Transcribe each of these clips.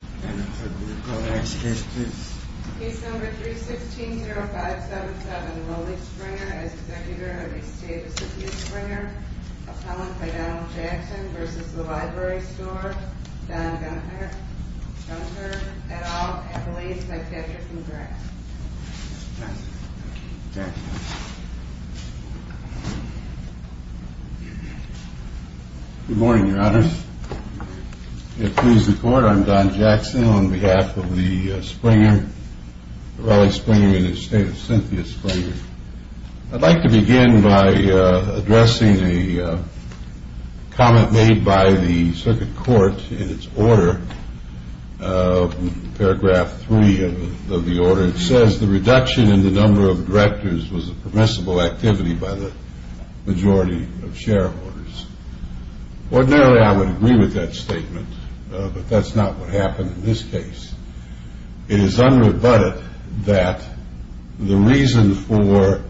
Don Jackson v. The Library Store Don Jackson v. The Library Store I'd like to begin by addressing a comment made by the circuit court in its order, paragraph 3 of the order. It says the reduction in the number of directors was a permissible activity by the majority of shareholders. Ordinarily I would agree with that statement, but that's not what happened in this case. It is unrebutted that the reason for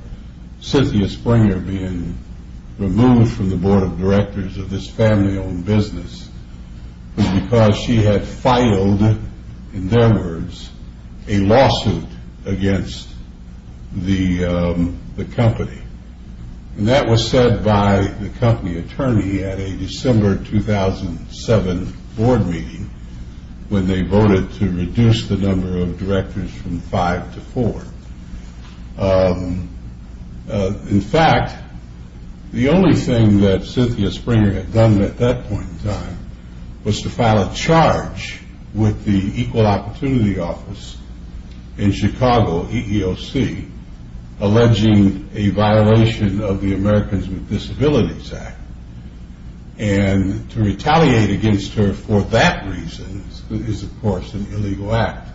Cynthia Springer being removed from the board of directors of this family owned business was because she had filed, in their words, a lawsuit against the company. And that was said by the company attorney at a December 2007 board meeting, when they voted to reduce the number of directors from five to four. In fact, the only thing that Cynthia Springer had done at that point in time was to file a charge with the equal opportunity office in Chicago, EEOC, alleging a violation of the Americans with Disabilities Act. And to retaliate against her for that reason is, of course, an illegal act.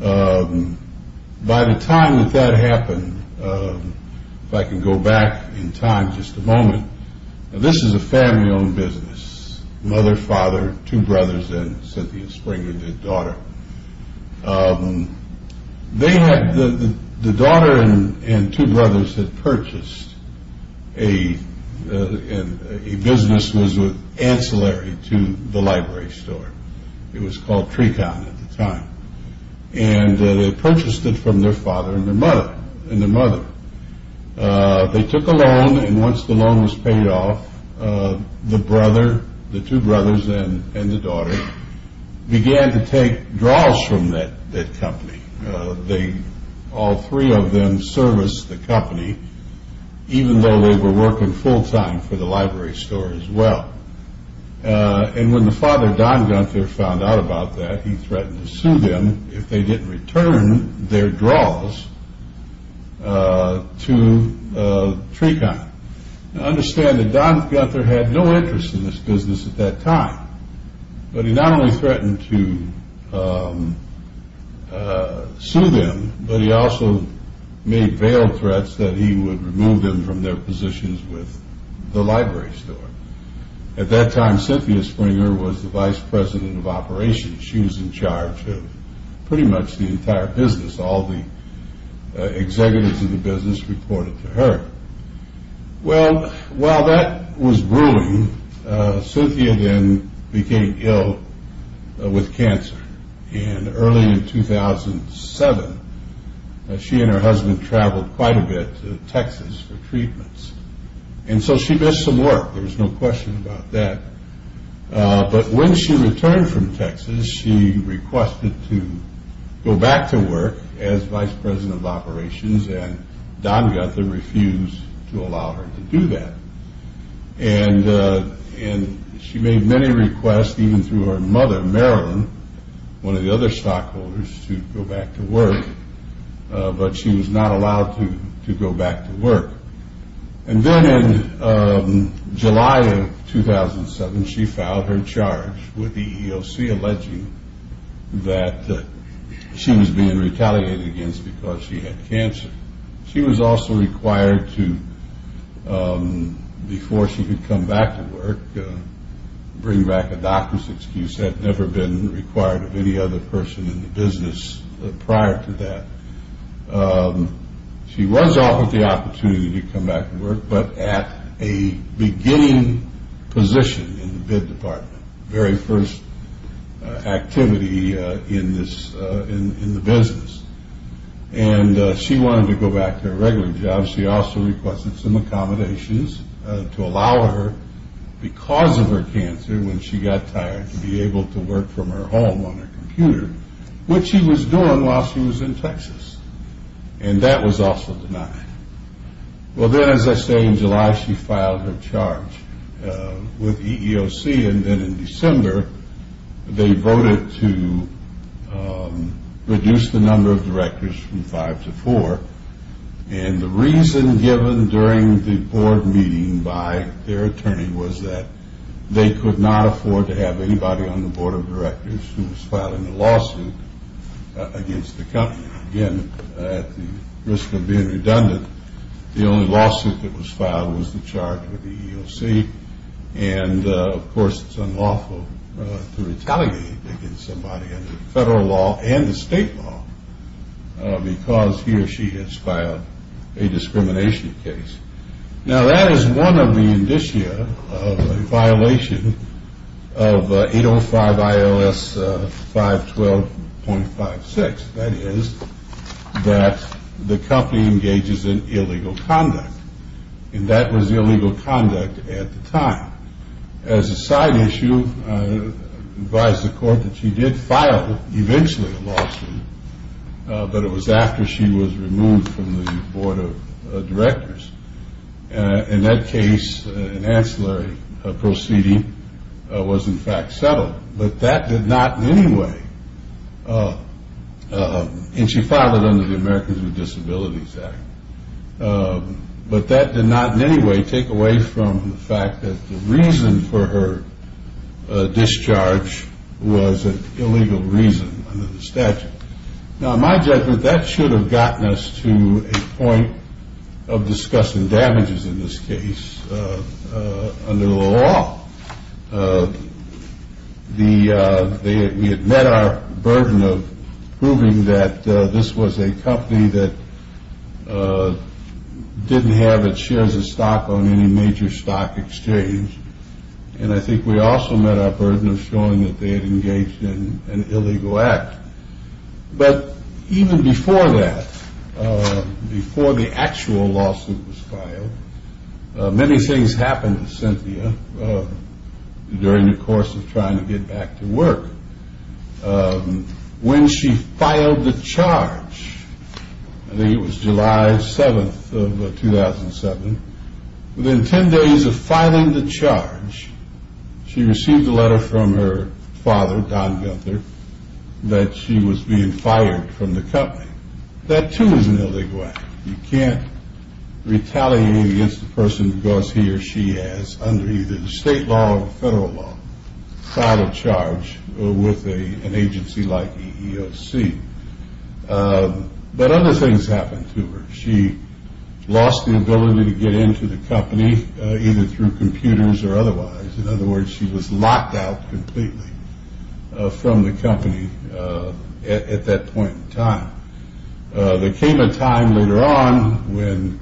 By the time that that happened, if I can go back in time just a moment, this is a family owned business, mother, father, two brothers, and Cynthia Springer, their daughter. The daughter and two brothers had purchased a business that was ancillary to the library store. It was called Trecon at the time. And they purchased it from their father and their mother. They took a loan, and once the loan was paid off, the two brothers and the daughter began to take draws from that company. All three of them serviced the company, even though they were working full time for the library store as well. And when the father, Don Gunther, found out about that, he threatened to sue them if they didn't return their draws to Trecon. Now understand that Don Gunther had no interest in this business at that time, but he not only threatened to sue them, but he also made veiled threats that he would remove them from their positions with the library store. At that time, Cynthia Springer was the vice president of operations. She was in charge of pretty much the entire business. All the executives of the business reported to her. Well, while that was brewing, Cynthia then became ill with cancer. And early in 2007, she and her husband traveled quite a bit to Texas for treatments. And so she missed some work. There was no question about that. But when she returned from Texas, she requested to go back to work as vice president of operations, and Don Gunther refused to allow her to do that. And she made many requests, even through her mother, Marilyn, one of the other stockholders, to go back to work. But she was not allowed to go back to work. And then in July of 2007, she filed her charge with the EEOC, that she was being retaliated against because she had cancer. She was also required to, before she could come back to work, bring back a doctor's excuse. Had never been required of any other person in the business prior to that. She was offered the opportunity to come back to work, but at a beginning position in the bid department, very first activity in the business. And she wanted to go back to her regular job. She also requested some accommodations to allow her, because of her cancer, when she got tired, to be able to work from her home on her computer, which she was doing while she was in Texas. And that was also denied. Well, then, as I say, in July, she filed her charge with the EEOC. And then in December, they voted to reduce the number of directors from five to four. And the reason given during the board meeting by their attorney was that they could not afford to have anybody on the board of directors who was filing a lawsuit against the company. Again, at the risk of being redundant, the only lawsuit that was filed was the charge with the EEOC. And, of course, it's unlawful to retaliate against somebody under federal law and the state law, because he or she has filed a discrimination case. Now, that is one of the indicia of a violation of 805 IOS 512.56. That is that the company engages in illegal conduct. And that was illegal conduct at the time. As a side issue, I advise the court that she did file, eventually, a lawsuit, but it was after she was removed from the board of directors. In that case, an ancillary proceeding was, in fact, settled. But that did not in any way, and she filed it under the Americans with Disabilities Act, but that did not in any way take away from the fact that the reason for her discharge was an illegal reason under the statute. Now, in my judgment, that should have gotten us to a point of discussing damages in this case under the law. We had met our burden of proving that this was a company that didn't have its shares of stock on any major stock exchange. And I think we also met our burden of showing that they had engaged in an illegal act. But even before that, before the actual lawsuit was filed, many things happened to Cynthia. During the course of trying to get back to work, when she filed the charge, I think it was July 7th of 2007, within 10 days of filing the charge, she received a letter from her father, Don Gunther, that she was being fired from the company. That, too, is an illegal act. You can't retaliate against a person because he or she has, under either the state law or the federal law, filed a charge with an agency like EEOC. But other things happened to her. She lost the ability to get into the company, either through computers or otherwise. In other words, she was locked out completely from the company at that point in time. There came a time later on when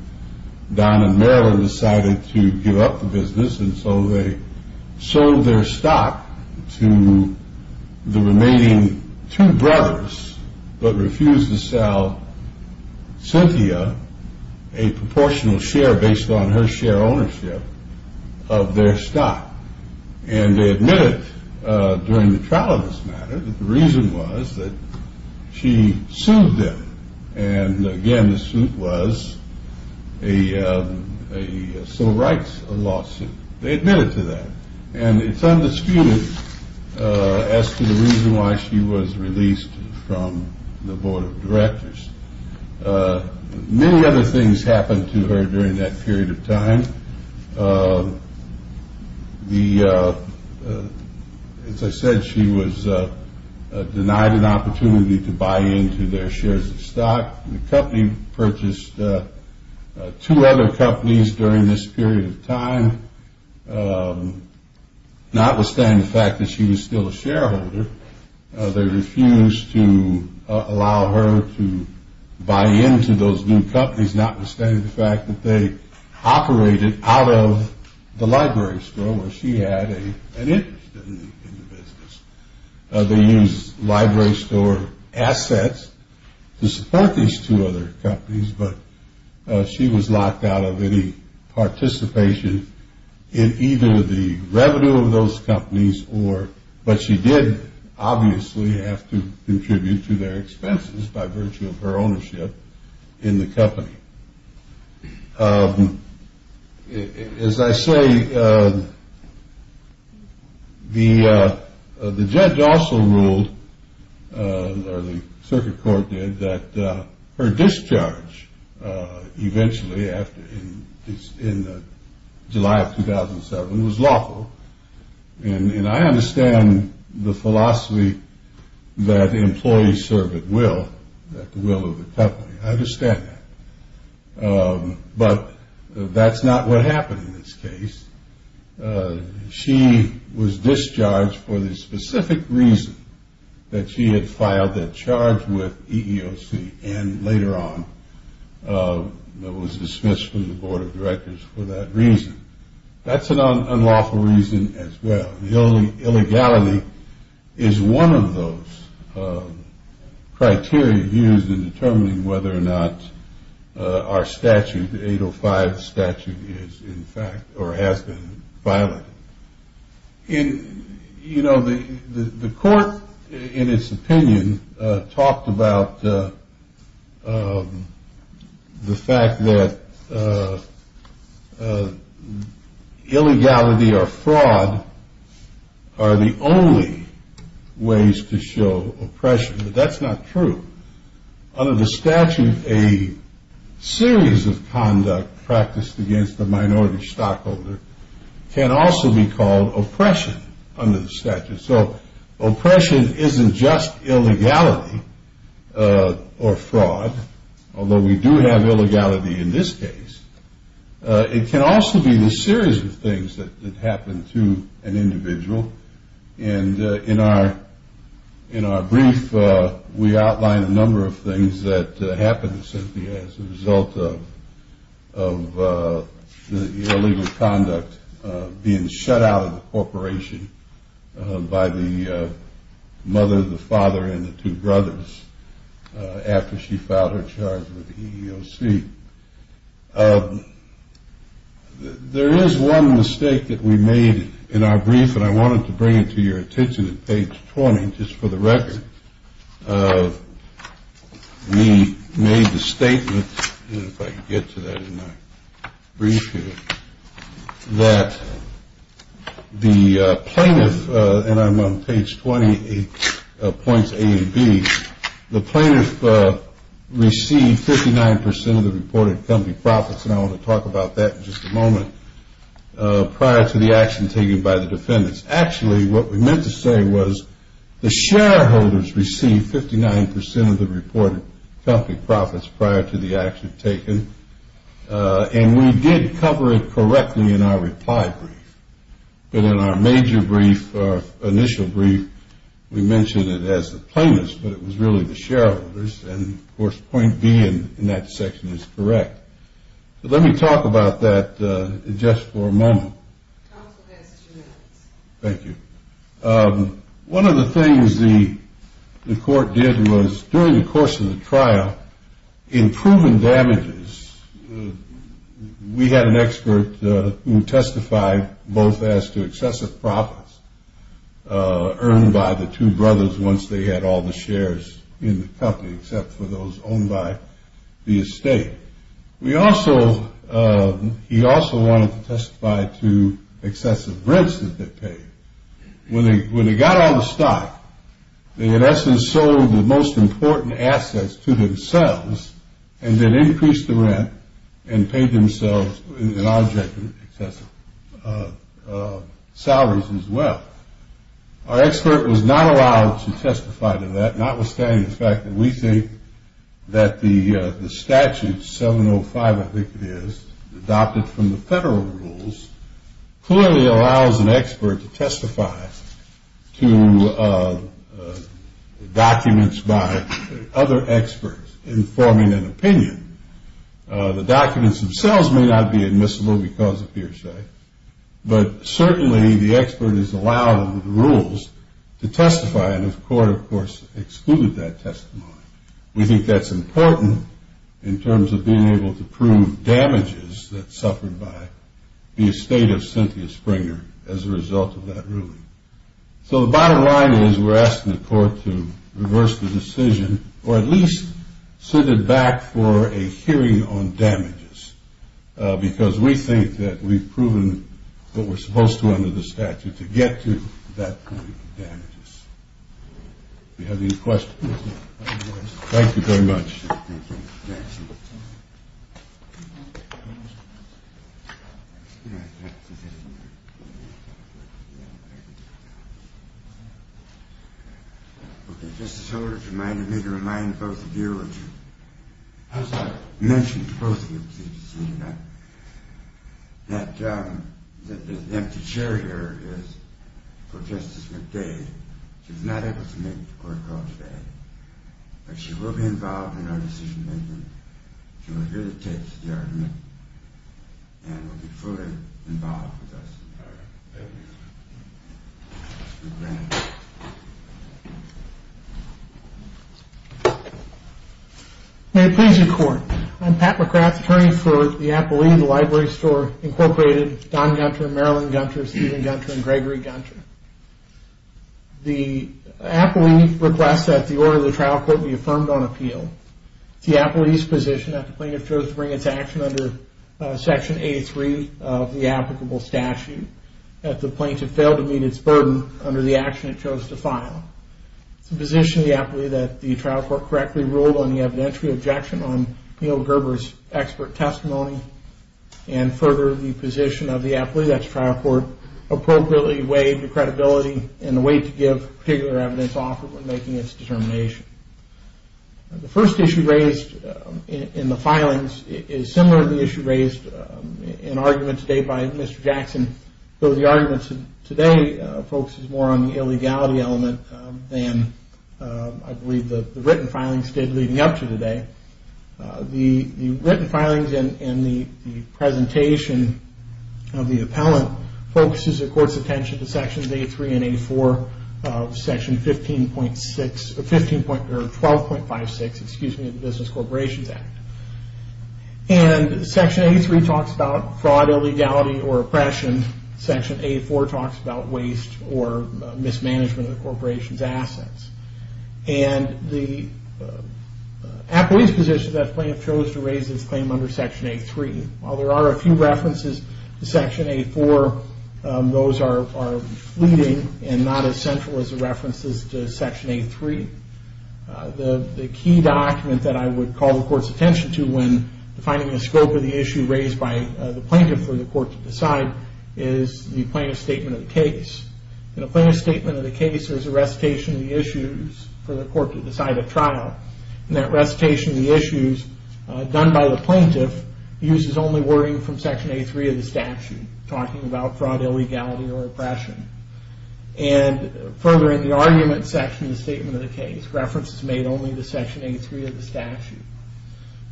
Don and Marilyn decided to give up the business, and so they sold their stock to the remaining two brothers, but refused to sell Cynthia a proportional share based on her share ownership of their stock. And they admitted during the trial of this matter that the reason was that she sued them. And, again, the suit was a civil rights lawsuit. They admitted to that, and it's undisputed as to the reason why she was released from the board of directors. Many other things happened to her during that period of time. As I said, she was denied an opportunity to buy into their shares of stock. The company purchased two other companies during this period of time. Notwithstanding the fact that she was still a shareholder, they refused to allow her to buy into those new companies, notwithstanding the fact that they operated out of the library store where she had an interest in the business. They used library store assets to support these two other companies, but she was locked out of any participation in either the revenue of those companies, but she did obviously have to contribute to their expenses by virtue of her ownership in the company. As I say, the judge also ruled, or the circuit court did, that her discharge eventually, in July of 2007, was lawful. And I understand the philosophy that employees serve at will, at the will of the company. I understand that. But that's not what happened in this case. She was discharged for the specific reason that she had filed that charge with EEOC, and later on was dismissed from the board of directors for that reason. That's an unlawful reason as well. Illegality is one of those criteria used in determining whether or not our statute, 805 statute, is in fact or has been violated. You know, the court, in its opinion, talked about the fact that illegality or fraud are the only ways to show oppression, but that's not true. Under the statute, a series of conduct practiced against a minority stockholder can also be called oppression under the statute. So oppression isn't just illegality or fraud, although we do have illegality in this case. It can also be the series of things that happen to an individual. And in our brief, we outline a number of things that happened to Cynthia as a result of the illegal conduct being shut out of the corporation by the mother, the father, and the two brothers after she filed her charge with EEOC. There is one mistake that we made in our brief, and I wanted to bring it to your attention at page 20 just for the record. We made the statement, if I can get to that in my brief here, that the plaintiff, and I'm on page 20, points A and B, the plaintiff received 59% of the reported company profits, and I want to talk about that in just a moment, prior to the action taken by the defendants. Actually, what we meant to say was the shareholders received 59% of the reported company profits prior to the action taken, and we did cover it correctly in our reply brief. But in our major brief, our initial brief, we mentioned it as the plaintiffs, but it was really the shareholders, and, of course, point B in that section is correct. Let me talk about that just for a moment. Counsel has two minutes. Thank you. One of the things the court did was, during the course of the trial, in proven damages, we had an expert who testified both as to excessive profits earned by the two brothers once they had all the shares in the company, except for those owned by the estate. He also wanted to testify to excessive rents that they paid. When they got all the stock, they, in essence, sold the most important assets to themselves and then increased the rent and paid themselves an object of excessive salaries as well. Our expert was not allowed to testify to that, notwithstanding the fact that we think that the statute 705, I think it is, adopted from the federal rules, clearly allows an expert to testify to documents by other experts informing an opinion. The documents themselves may not be admissible because of hearsay, but certainly the expert is allowed under the rules to testify, and the court, of course, excluded that testimony. We think that's important in terms of being able to prove damages that suffered by the estate of Cynthia Springer as a result of that ruling. So the bottom line is we're asking the court to reverse the decision or at least send it back for a hearing on damages because we think that we've proven what we're supposed to under the statute to get to that point of damages. Do you have any questions? Thank you very much. Thank you. Okay, Justice Holder, if you mind, let me remind both of you, as I mentioned to both of you, that the empty chair here is for Justice McDade. She was not able to make the court call today, but she will be involved in our decision-making. She will hear the tapes of the argument and will be fully involved with us. All right. Thank you. May it please the Court, I'm Pat McGrath, attorney for the appellee in the library store, Incorporated, Don Gunter, Marilyn Gunter, Stephen Gunter, and Gregory Gunter. The appellee requests that the order of the trial court be affirmed on appeal. It's the appellee's position that the plaintiff chose to bring its action under Section 83 of the applicable statute that the plaintiff failed to meet its burden under the action it chose to file. It's the position of the appellee that the trial court correctly ruled on the evidentiary objection on Neal Gerber's expert testimony and further the position of the appellee that the trial court appropriately weighed the credibility and the weight to give particular evidence offered when making its determination. The first issue raised in the filings is similar to the issue raised in arguments made by Mr. Jackson, though the argument today focuses more on the illegality element than I believe the written filings did leading up to today. The written filings and the presentation of the appellant focuses the court's attention to Sections 83 and 84 of Section 12.56 of the Business Corporations Act. Section 83 talks about fraud, illegality, or oppression. Section 84 talks about waste or mismanagement of the corporation's assets. The appellee's position is that the plaintiff chose to raise its claim under Section 83. While there are a few references to Section 84, those are fleeting and not as central as the references to Section 83. The key document that I would call the court's attention to when defining the scope of the issue raised by the plaintiff for the court to decide is the plaintiff's statement of the case. In a plaintiff's statement of the case, there's a recitation of the issues for the court to decide at trial. And that recitation of the issues done by the plaintiff uses only wording from Section 83 of the statute talking about fraud, illegality, or oppression. And further in the argument section, the statement of the case, references made only to Section 83 of the statute.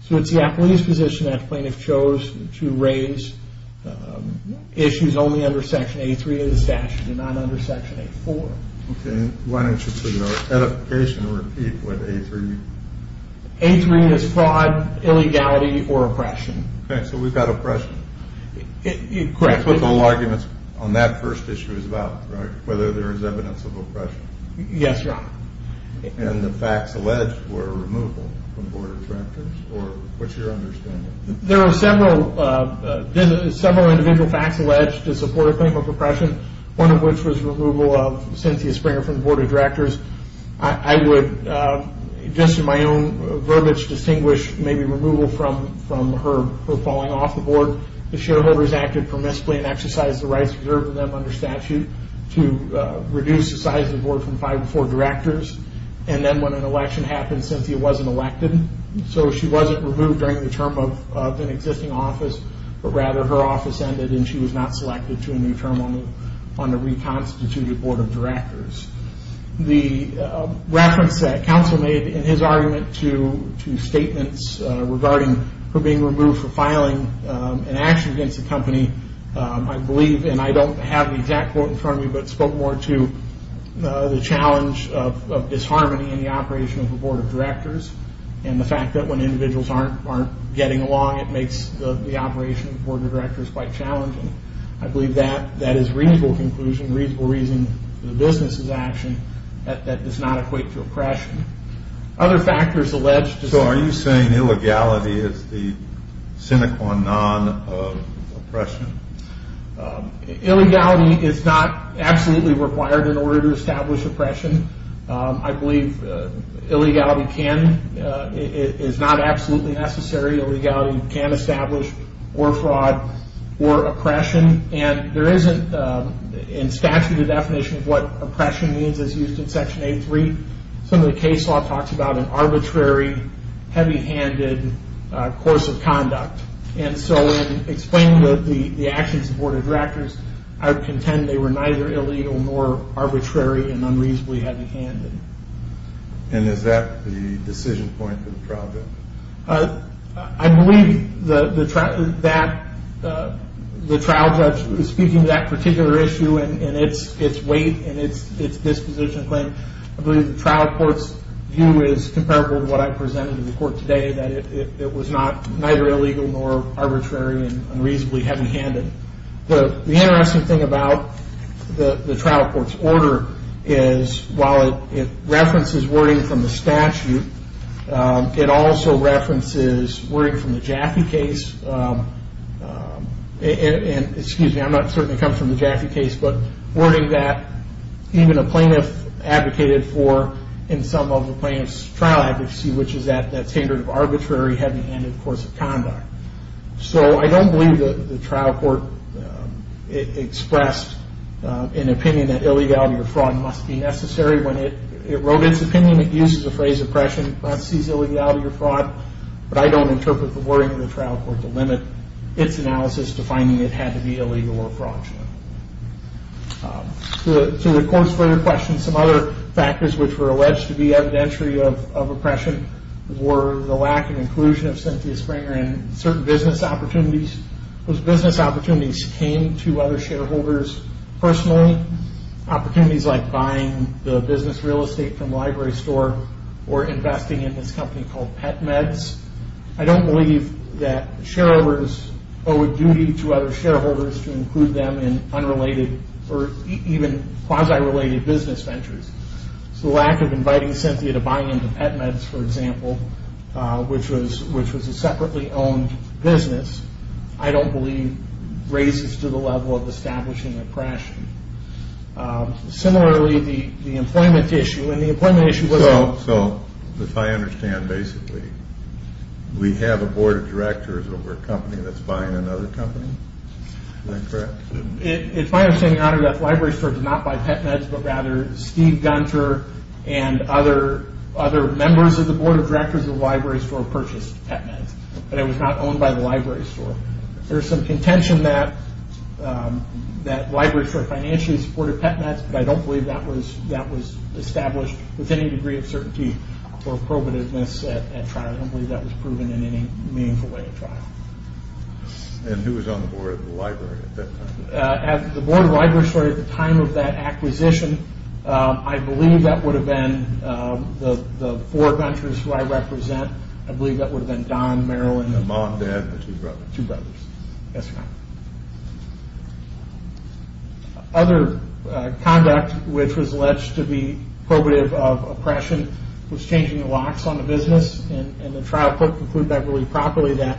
So it's the appellee's position that the plaintiff chose to raise issues only under Section 83 of the statute and not under Section 84. Okay, why don't you put your edification and repeat what 83 means? 83 is fraud, illegality, or oppression. Okay, so we've got oppression. Correct. The whole argument on that first issue is about, right, whether there is evidence of oppression. Yes, Your Honor. And the facts alleged were removal from the Board of Directors, or what's your understanding? There are several individual facts alleged to support a claim of oppression, one of which was removal of Cynthia Springer from the Board of Directors. I would, just in my own verbiage, distinguish maybe removal from her falling off the board. The shareholders acted permissibly and exercised the rights reserved to them under statute to reduce the size of the board from five to four directors. And then when an election happened, Cynthia wasn't elected. So she wasn't removed during the term of an existing office, but rather her office ended and she was not selected to a new term on the reconstituted Board of Directors. The reference that counsel made in his argument to statements regarding her being removed for filing an action against the company, I believe, and I don't have the exact quote in front of me, but spoke more to the challenge of disharmony in the operation of the Board of Directors and the fact that when individuals aren't getting along, it makes the operation of the Board of Directors quite challenging. I believe that is a reasonable conclusion, a reasonable reason for the business's action that does not equate to oppression. Other factors alleged... So are you saying illegality is the sine qua non of oppression? Illegality is not absolutely required in order to establish oppression. I believe illegality is not absolutely necessary. Illegality can establish or fraud or oppression, and there isn't in statute a definition of what oppression means as used in Section 8.3. Some of the case law talks about an arbitrary, heavy-handed course of conduct, and so in explaining the actions of the Board of Directors, I would contend they were neither illegal nor arbitrary and unreasonably heavy-handed. And is that the decision point for the trial judge? I believe that the trial judge, speaking to that particular issue and its weight and its disposition claim, I believe the trial court's view is comparable to what I presented to the court today, that it was neither illegal nor arbitrary and unreasonably heavy-handed. The interesting thing about the trial court's order is, while it references wording from the statute, it also references wording from the Jackie case. And, excuse me, I'm not certain it comes from the Jackie case, but wording that even a plaintiff advocated for in some of the plaintiff's trial advocacy, which is that standard of arbitrary, heavy-handed course of conduct. So I don't believe the trial court expressed an opinion that illegality or fraud must be necessary. When it wrote its opinion, it used the phrase, but I don't interpret the wording of the trial court to limit its analysis to finding it had to be illegal or fraudulent. To the court's further question, some other factors which were alleged to be evidentiary of oppression were the lack of inclusion of Cynthia Springer in certain business opportunities. Those business opportunities came to other shareholders personally. Opportunities like buying the business real estate from a library store or investing in this company called PetMeds. I don't believe that shareholders owe a duty to other shareholders to include them in unrelated or even quasi-related business ventures. So the lack of inviting Cynthia to buy into PetMeds, for example, which was a separately owned business, I don't believe raises to the level of establishing oppression. Similarly, the employment issue, and the employment issue wasn't... So if I understand basically, we have a board of directors over a company that's buying another company? Is that correct? It's my understanding, Your Honor, that the library store did not buy PetMeds, but rather Steve Gunter and other members of the board of directors of the library store purchased PetMeds, but it was not owned by the library store. There's some contention that library store financially supported PetMeds, but I don't believe that was established with any degree of certainty or probativeness at trial. I don't believe that was proven in any meaningful way at trial. And who was on the board of the library at that time? The board of library store at the time of that acquisition, I believe that would have been the four ventures who I represent. I believe that would have been Don, Marilyn... My mom, dad, and two brothers. Yes, Your Honor. Other conduct which was alleged to be probative of oppression was changing the locks on the business, and the trial could conclude that really properly that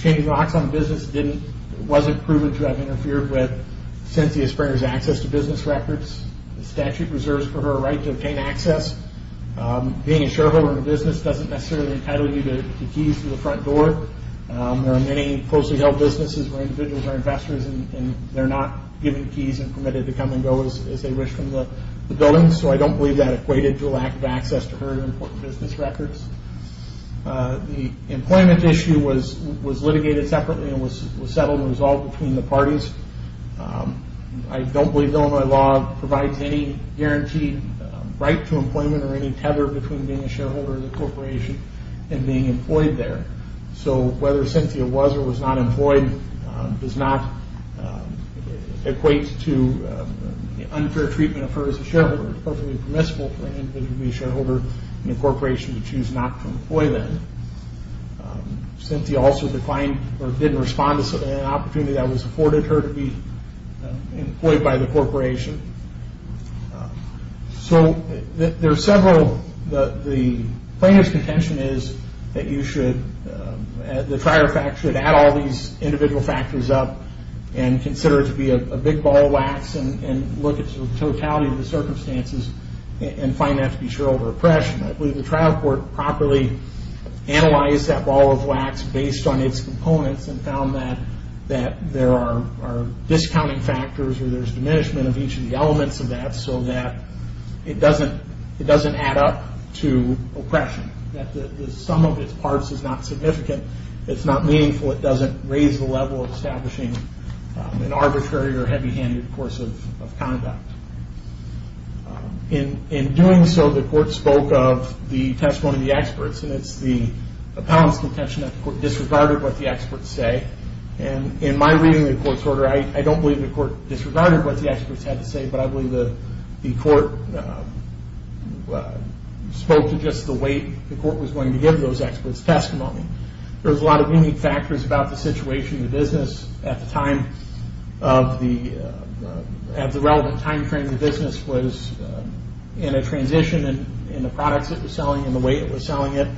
changing the locks on the business wasn't proven to have interfered with Cynthia Springer's access to business records. The statute reserves for her right to obtain access. Being a shareholder in a business doesn't necessarily entitle you to keys to the front door. There are many closely held businesses where individuals are investors, and they're not given keys and permitted to come and go as they wish from the building, so I don't believe that equated to lack of access to her important business records. The employment issue was litigated separately and was settled and resolved between the parties. I don't believe Illinois law provides any guaranteed right to employment or any tether between being a shareholder in a corporation and being employed there, so whether Cynthia was or was not employed does not equate to unfair treatment of her as a shareholder. It's perfectly permissible for an individual to be a shareholder in a corporation and choose not to employ them. Cynthia also declined or didn't respond to an opportunity that was afforded her to be employed by the corporation. The plaintiff's contention is that the trial factor should add all these individual factors up and consider it to be a big ball of wax and look at the totality of the circumstances and find that to be shareholder oppression. I believe the trial court properly analyzed that ball of wax based on its components and found that there are discounting factors or there's diminishment of each of the elements of that so that it doesn't add up to oppression, that the sum of its parts is not significant. It's not meaningful. It doesn't raise the level of establishing an arbitrary or heavy-handed course of conduct. In doing so, the court spoke of the testimony of the experts and it's the appellant's contention that the court disregarded what the experts say. In my reading of the court's order, I don't believe the court disregarded what the experts had to say, but I believe the court spoke to just the way the court was going to give those experts testimony. There's a lot of unique factors about the situation in the business at the time of the relevant time frame the business was in a transition in the products it was selling and the way it was selling it.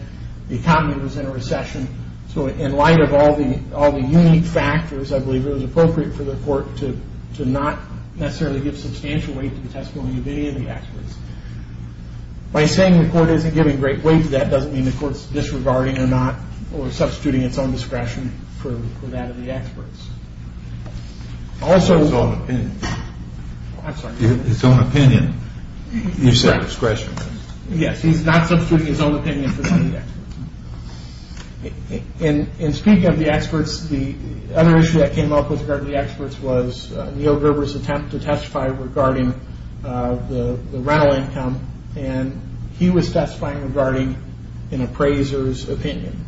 The economy was in a recession, so in light of all the unique factors, I believe it was appropriate for the court to not necessarily give substantial weight to the testimony of any of the experts. By saying the court isn't giving great weight to that doesn't mean the court's disregarding or not substituting its own discretion for that of the experts. His own opinion. I'm sorry. His own opinion. You said discretion. Yes, he's not substituting his own opinion for that of the experts. In speaking of the experts, the other issue that came up with regard to the experts was Neil Gerber's attempt to testify regarding the rental income and he was testifying regarding an appraiser's opinion.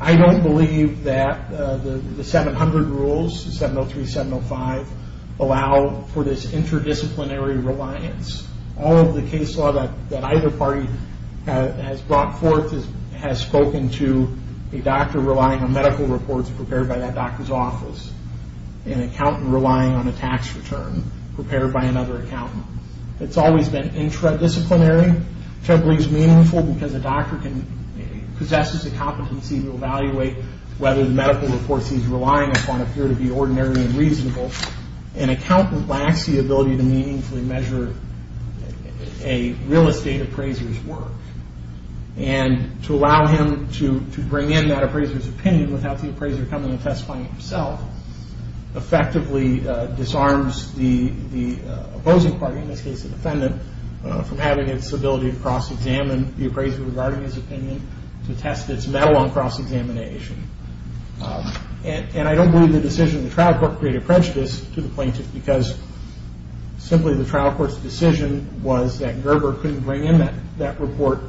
I don't believe that the 700 rules, 703, 705, allow for this interdisciplinary reliance. All of the case law that either party has brought forth has spoken to a doctor relying on medical reports prepared by that doctor's office, an accountant relying on a tax return prepared by another accountant. It's always been interdisciplinary, which I believe is meaningful because a doctor possesses the competency to evaluate whether the medical reports he's relying upon appear to be ordinary and reasonable. An accountant lacks the ability to meaningfully measure a real estate appraiser's work and to allow him to bring in that appraiser's opinion without the appraiser coming and testifying himself effectively disarms the opposing party, in this case the defendant, from having its ability to cross-examine the appraiser regarding his opinion to test its mettle on cross-examination. And I don't believe the decision of the trial court created prejudice to the plaintiff because simply the trial court's decision was that Gerber couldn't bring in that report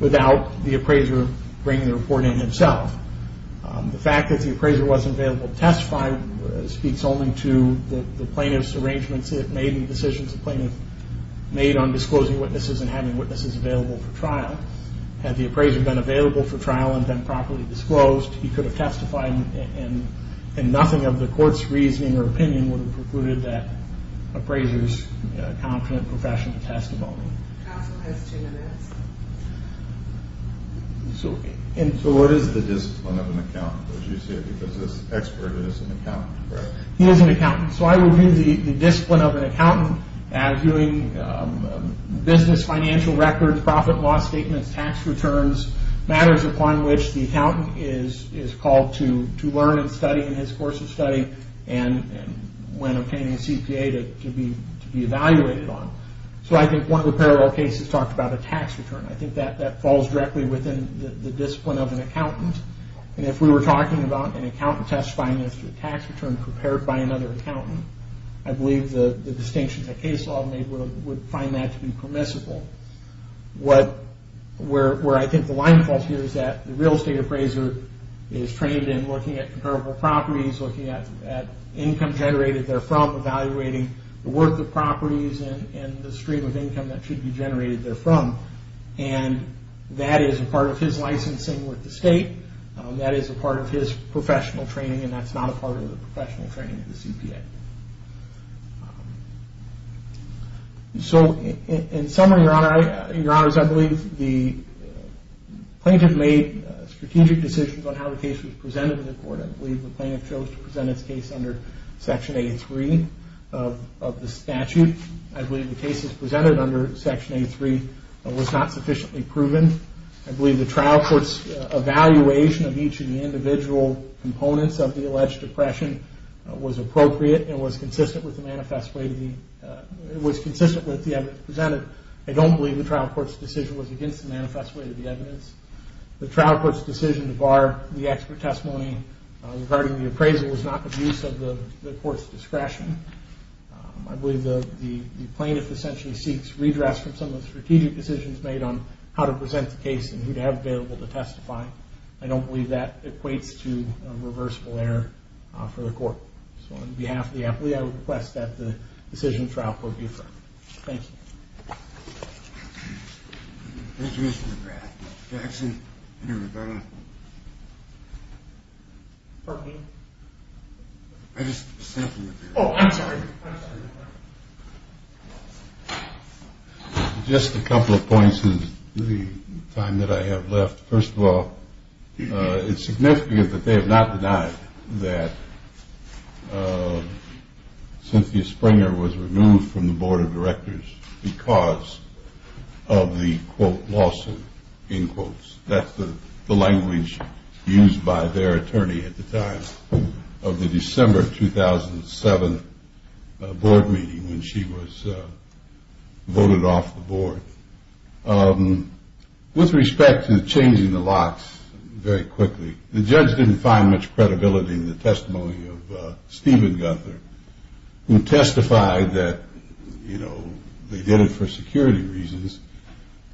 without the appraiser bringing the report in himself. The fact that the appraiser wasn't available to testify speaks only to the plaintiff's arrangements it made and decisions the plaintiff made on disclosing witnesses and having witnesses available for trial. Had the appraiser been available for trial and then properly disclosed, he could have testified and nothing of the court's reasoning or opinion would have precluded that appraiser's confident professional testimony. Counsel has two minutes. So what is the discipline of an accountant? Because this expert is an accountant, correct? He is an accountant. So I would view the discipline of an accountant as viewing business financial records, profit and loss statements, tax returns, matters upon which the accountant is called to learn and study in his course of study and when obtaining a CPA to be evaluated on. So I think one of the parallel cases talked about a tax return. I think that falls directly within the discipline of an accountant. And if we were talking about an accountant testifying as to a tax return prepared by another accountant, I believe the distinction the case law made would find that to be permissible. Where I think the line falls here is that the real estate appraiser is trained in looking at comparable properties, looking at income generated therefrom, evaluating the worth of properties and the stream of income that should be generated therefrom. And that is a part of his licensing with the state, that is a part of his professional training, and that's not a part of the professional training of the CPA. So in summary, Your Honors, I believe the plaintiff made strategic decisions on how the case was presented to the court. I believe the plaintiff chose to present its case under Section A3 of the statute. I believe the cases presented under Section A3 was not sufficiently proven. I believe the trial court's evaluation of each of the individual components of the alleged oppression was appropriate and was consistent with the evidence presented. I don't believe the trial court's decision was against the manifest way of the evidence. The trial court's decision to bar the expert testimony regarding the appraisal was not the use of the court's discretion. I believe the plaintiff essentially seeks redress from some of the strategic decisions made on how to present the case and who to have available to testify. I don't believe that equates to a reversible error for the court. So on behalf of the applicant, I request that the decision trial court be affirmed. Thank you. Thank you, Mr. McGrath. Jackson, Interim Governor. Pardon me? I just stepped in the building. Oh, I'm sorry. Just a couple of points in the time that I have left. First of all, it's significant that they have not denied that Cynthia Springer was removed from the Board of Directors because of the, quote, lawsuit, in quotes. That's the language used by their attorney at the time of the December 2007 board meeting when she was voted off the board. With respect to changing the locks very quickly, the judge didn't find much credibility in the testimony of Stephen Gunther, who testified that, you know, they did it for security reasons,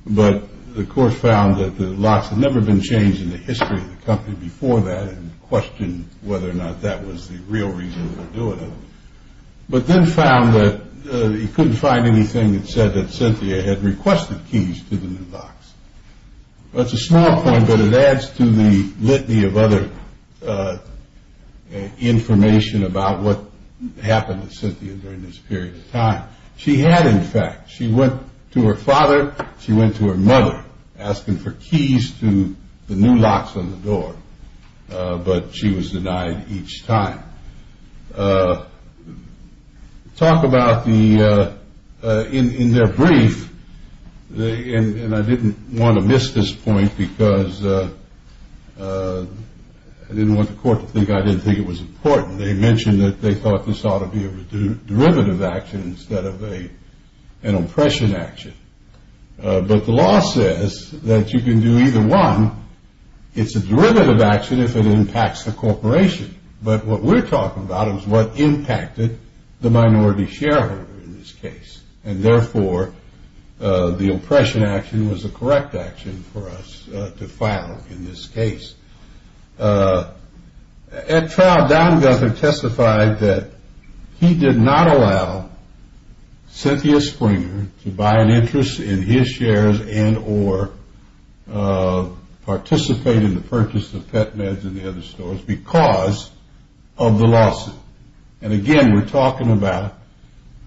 but the court found that the locks had never been changed in the history of the company before that and questioned whether or not that was the real reason for doing it, but then found that he couldn't find anything that said that Cynthia had requested keys to the new locks. Well, it's a small point, but it adds to the litany of other information about what happened to Cynthia during this period of time. She had, in fact, she went to her father, she went to her mother, asking for keys to the new locks on the door, but she was denied each time. Talk about the, in their brief, and I didn't want to miss this point because I didn't want the court to think I didn't think it was important. They mentioned that they thought this ought to be a derivative action instead of an oppression action, but the law says that you can do either one. It's a derivative action if it impacts the corporation, but what we're talking about is what impacted the minority shareholder in this case, and therefore the oppression action was the correct action for us to file in this case. At trial, Don Guthard testified that he did not allow Cynthia Springer to buy an interest in his shares and or participate in the purchase of pet meds in the other stores because of the lawsuit. And again, we're talking about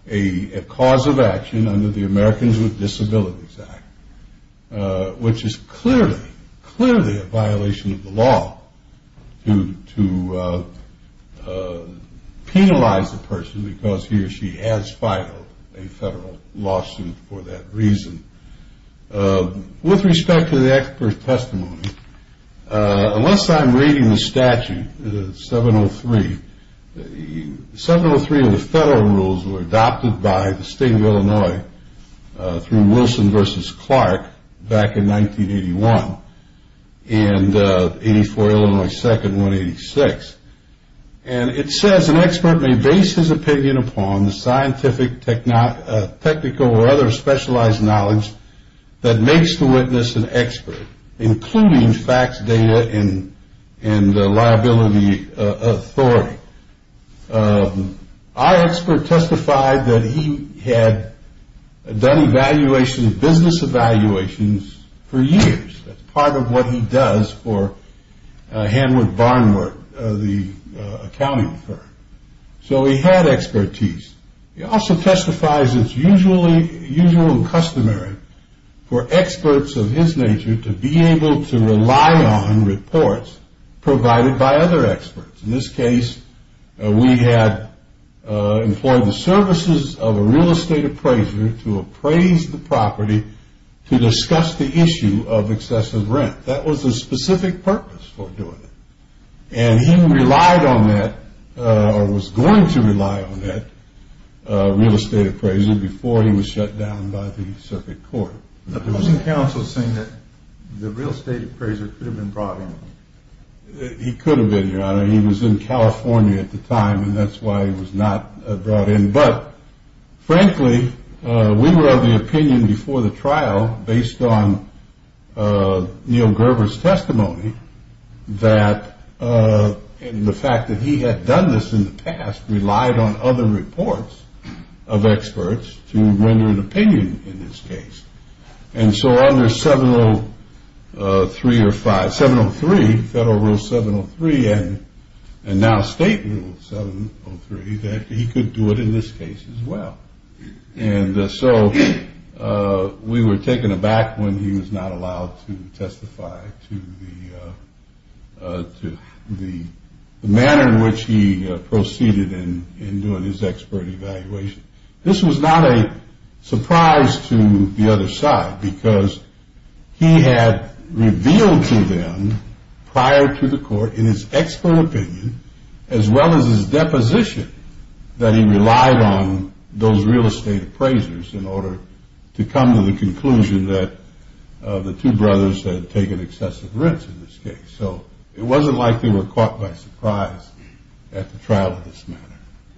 a cause of action under the Americans with Disabilities Act, which is clearly, clearly a violation of the law to penalize the person because he or she has filed a federal lawsuit for that reason. With respect to the expert testimony, unless I'm reading the statute, 703, 703 of the federal rules were adopted by the state of Illinois through Wilson versus Clark back in 1981, and 84 Illinois 2nd, 186. And it says an expert may base his opinion upon the scientific, technical, or other specialized knowledge that makes the witness an expert, including facts, data, and liability authority. Our expert testified that he had done business evaluations for years. That's part of what he does for Hanwood Barnwork, the accounting firm. So he had expertise. He also testifies it's usual and customary for experts of his nature to be able to rely on reports provided by other experts. In this case, we had employed the services of a real estate appraiser to appraise the property to discuss the issue of excessive rent. That was the specific purpose for doing it. And he relied on that or was going to rely on that real estate appraiser before he was shut down by the circuit court. But there was some counsel saying that the real estate appraiser could have been brought in. He could have been. He was in California at the time, and that's why he was not brought in. But frankly, we were of the opinion before the trial, based on Neil Gerber's testimony, that the fact that he had done this in the past relied on other reports of experts to render an opinion in this case. And so under 703, federal rule 703, and now state rule 703, that he could do it in this case as well. And so we were taken aback when he was not allowed to testify to the manner in which he proceeded in doing his expert evaluation. This was not a surprise to the other side because he had revealed to them prior to the court in his expert opinion, as well as his deposition, that he relied on those real estate appraisers in order to come to the conclusion that the two brothers had taken excessive rents in this case. So it wasn't like they were caught by surprise at the trial of this matter.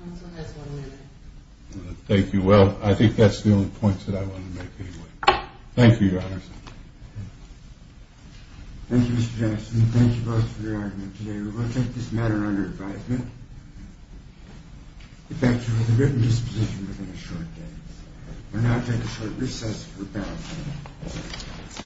Counsel has one minute. Thank you. Well, I think that's the only point that I want to make anyway. Thank you, Your Honor. Thank you, Mr. Jackson. Thank you both for your argument today. We will take this matter under advisement. We thank you for the written disposition within a short day. We will now take a short recess.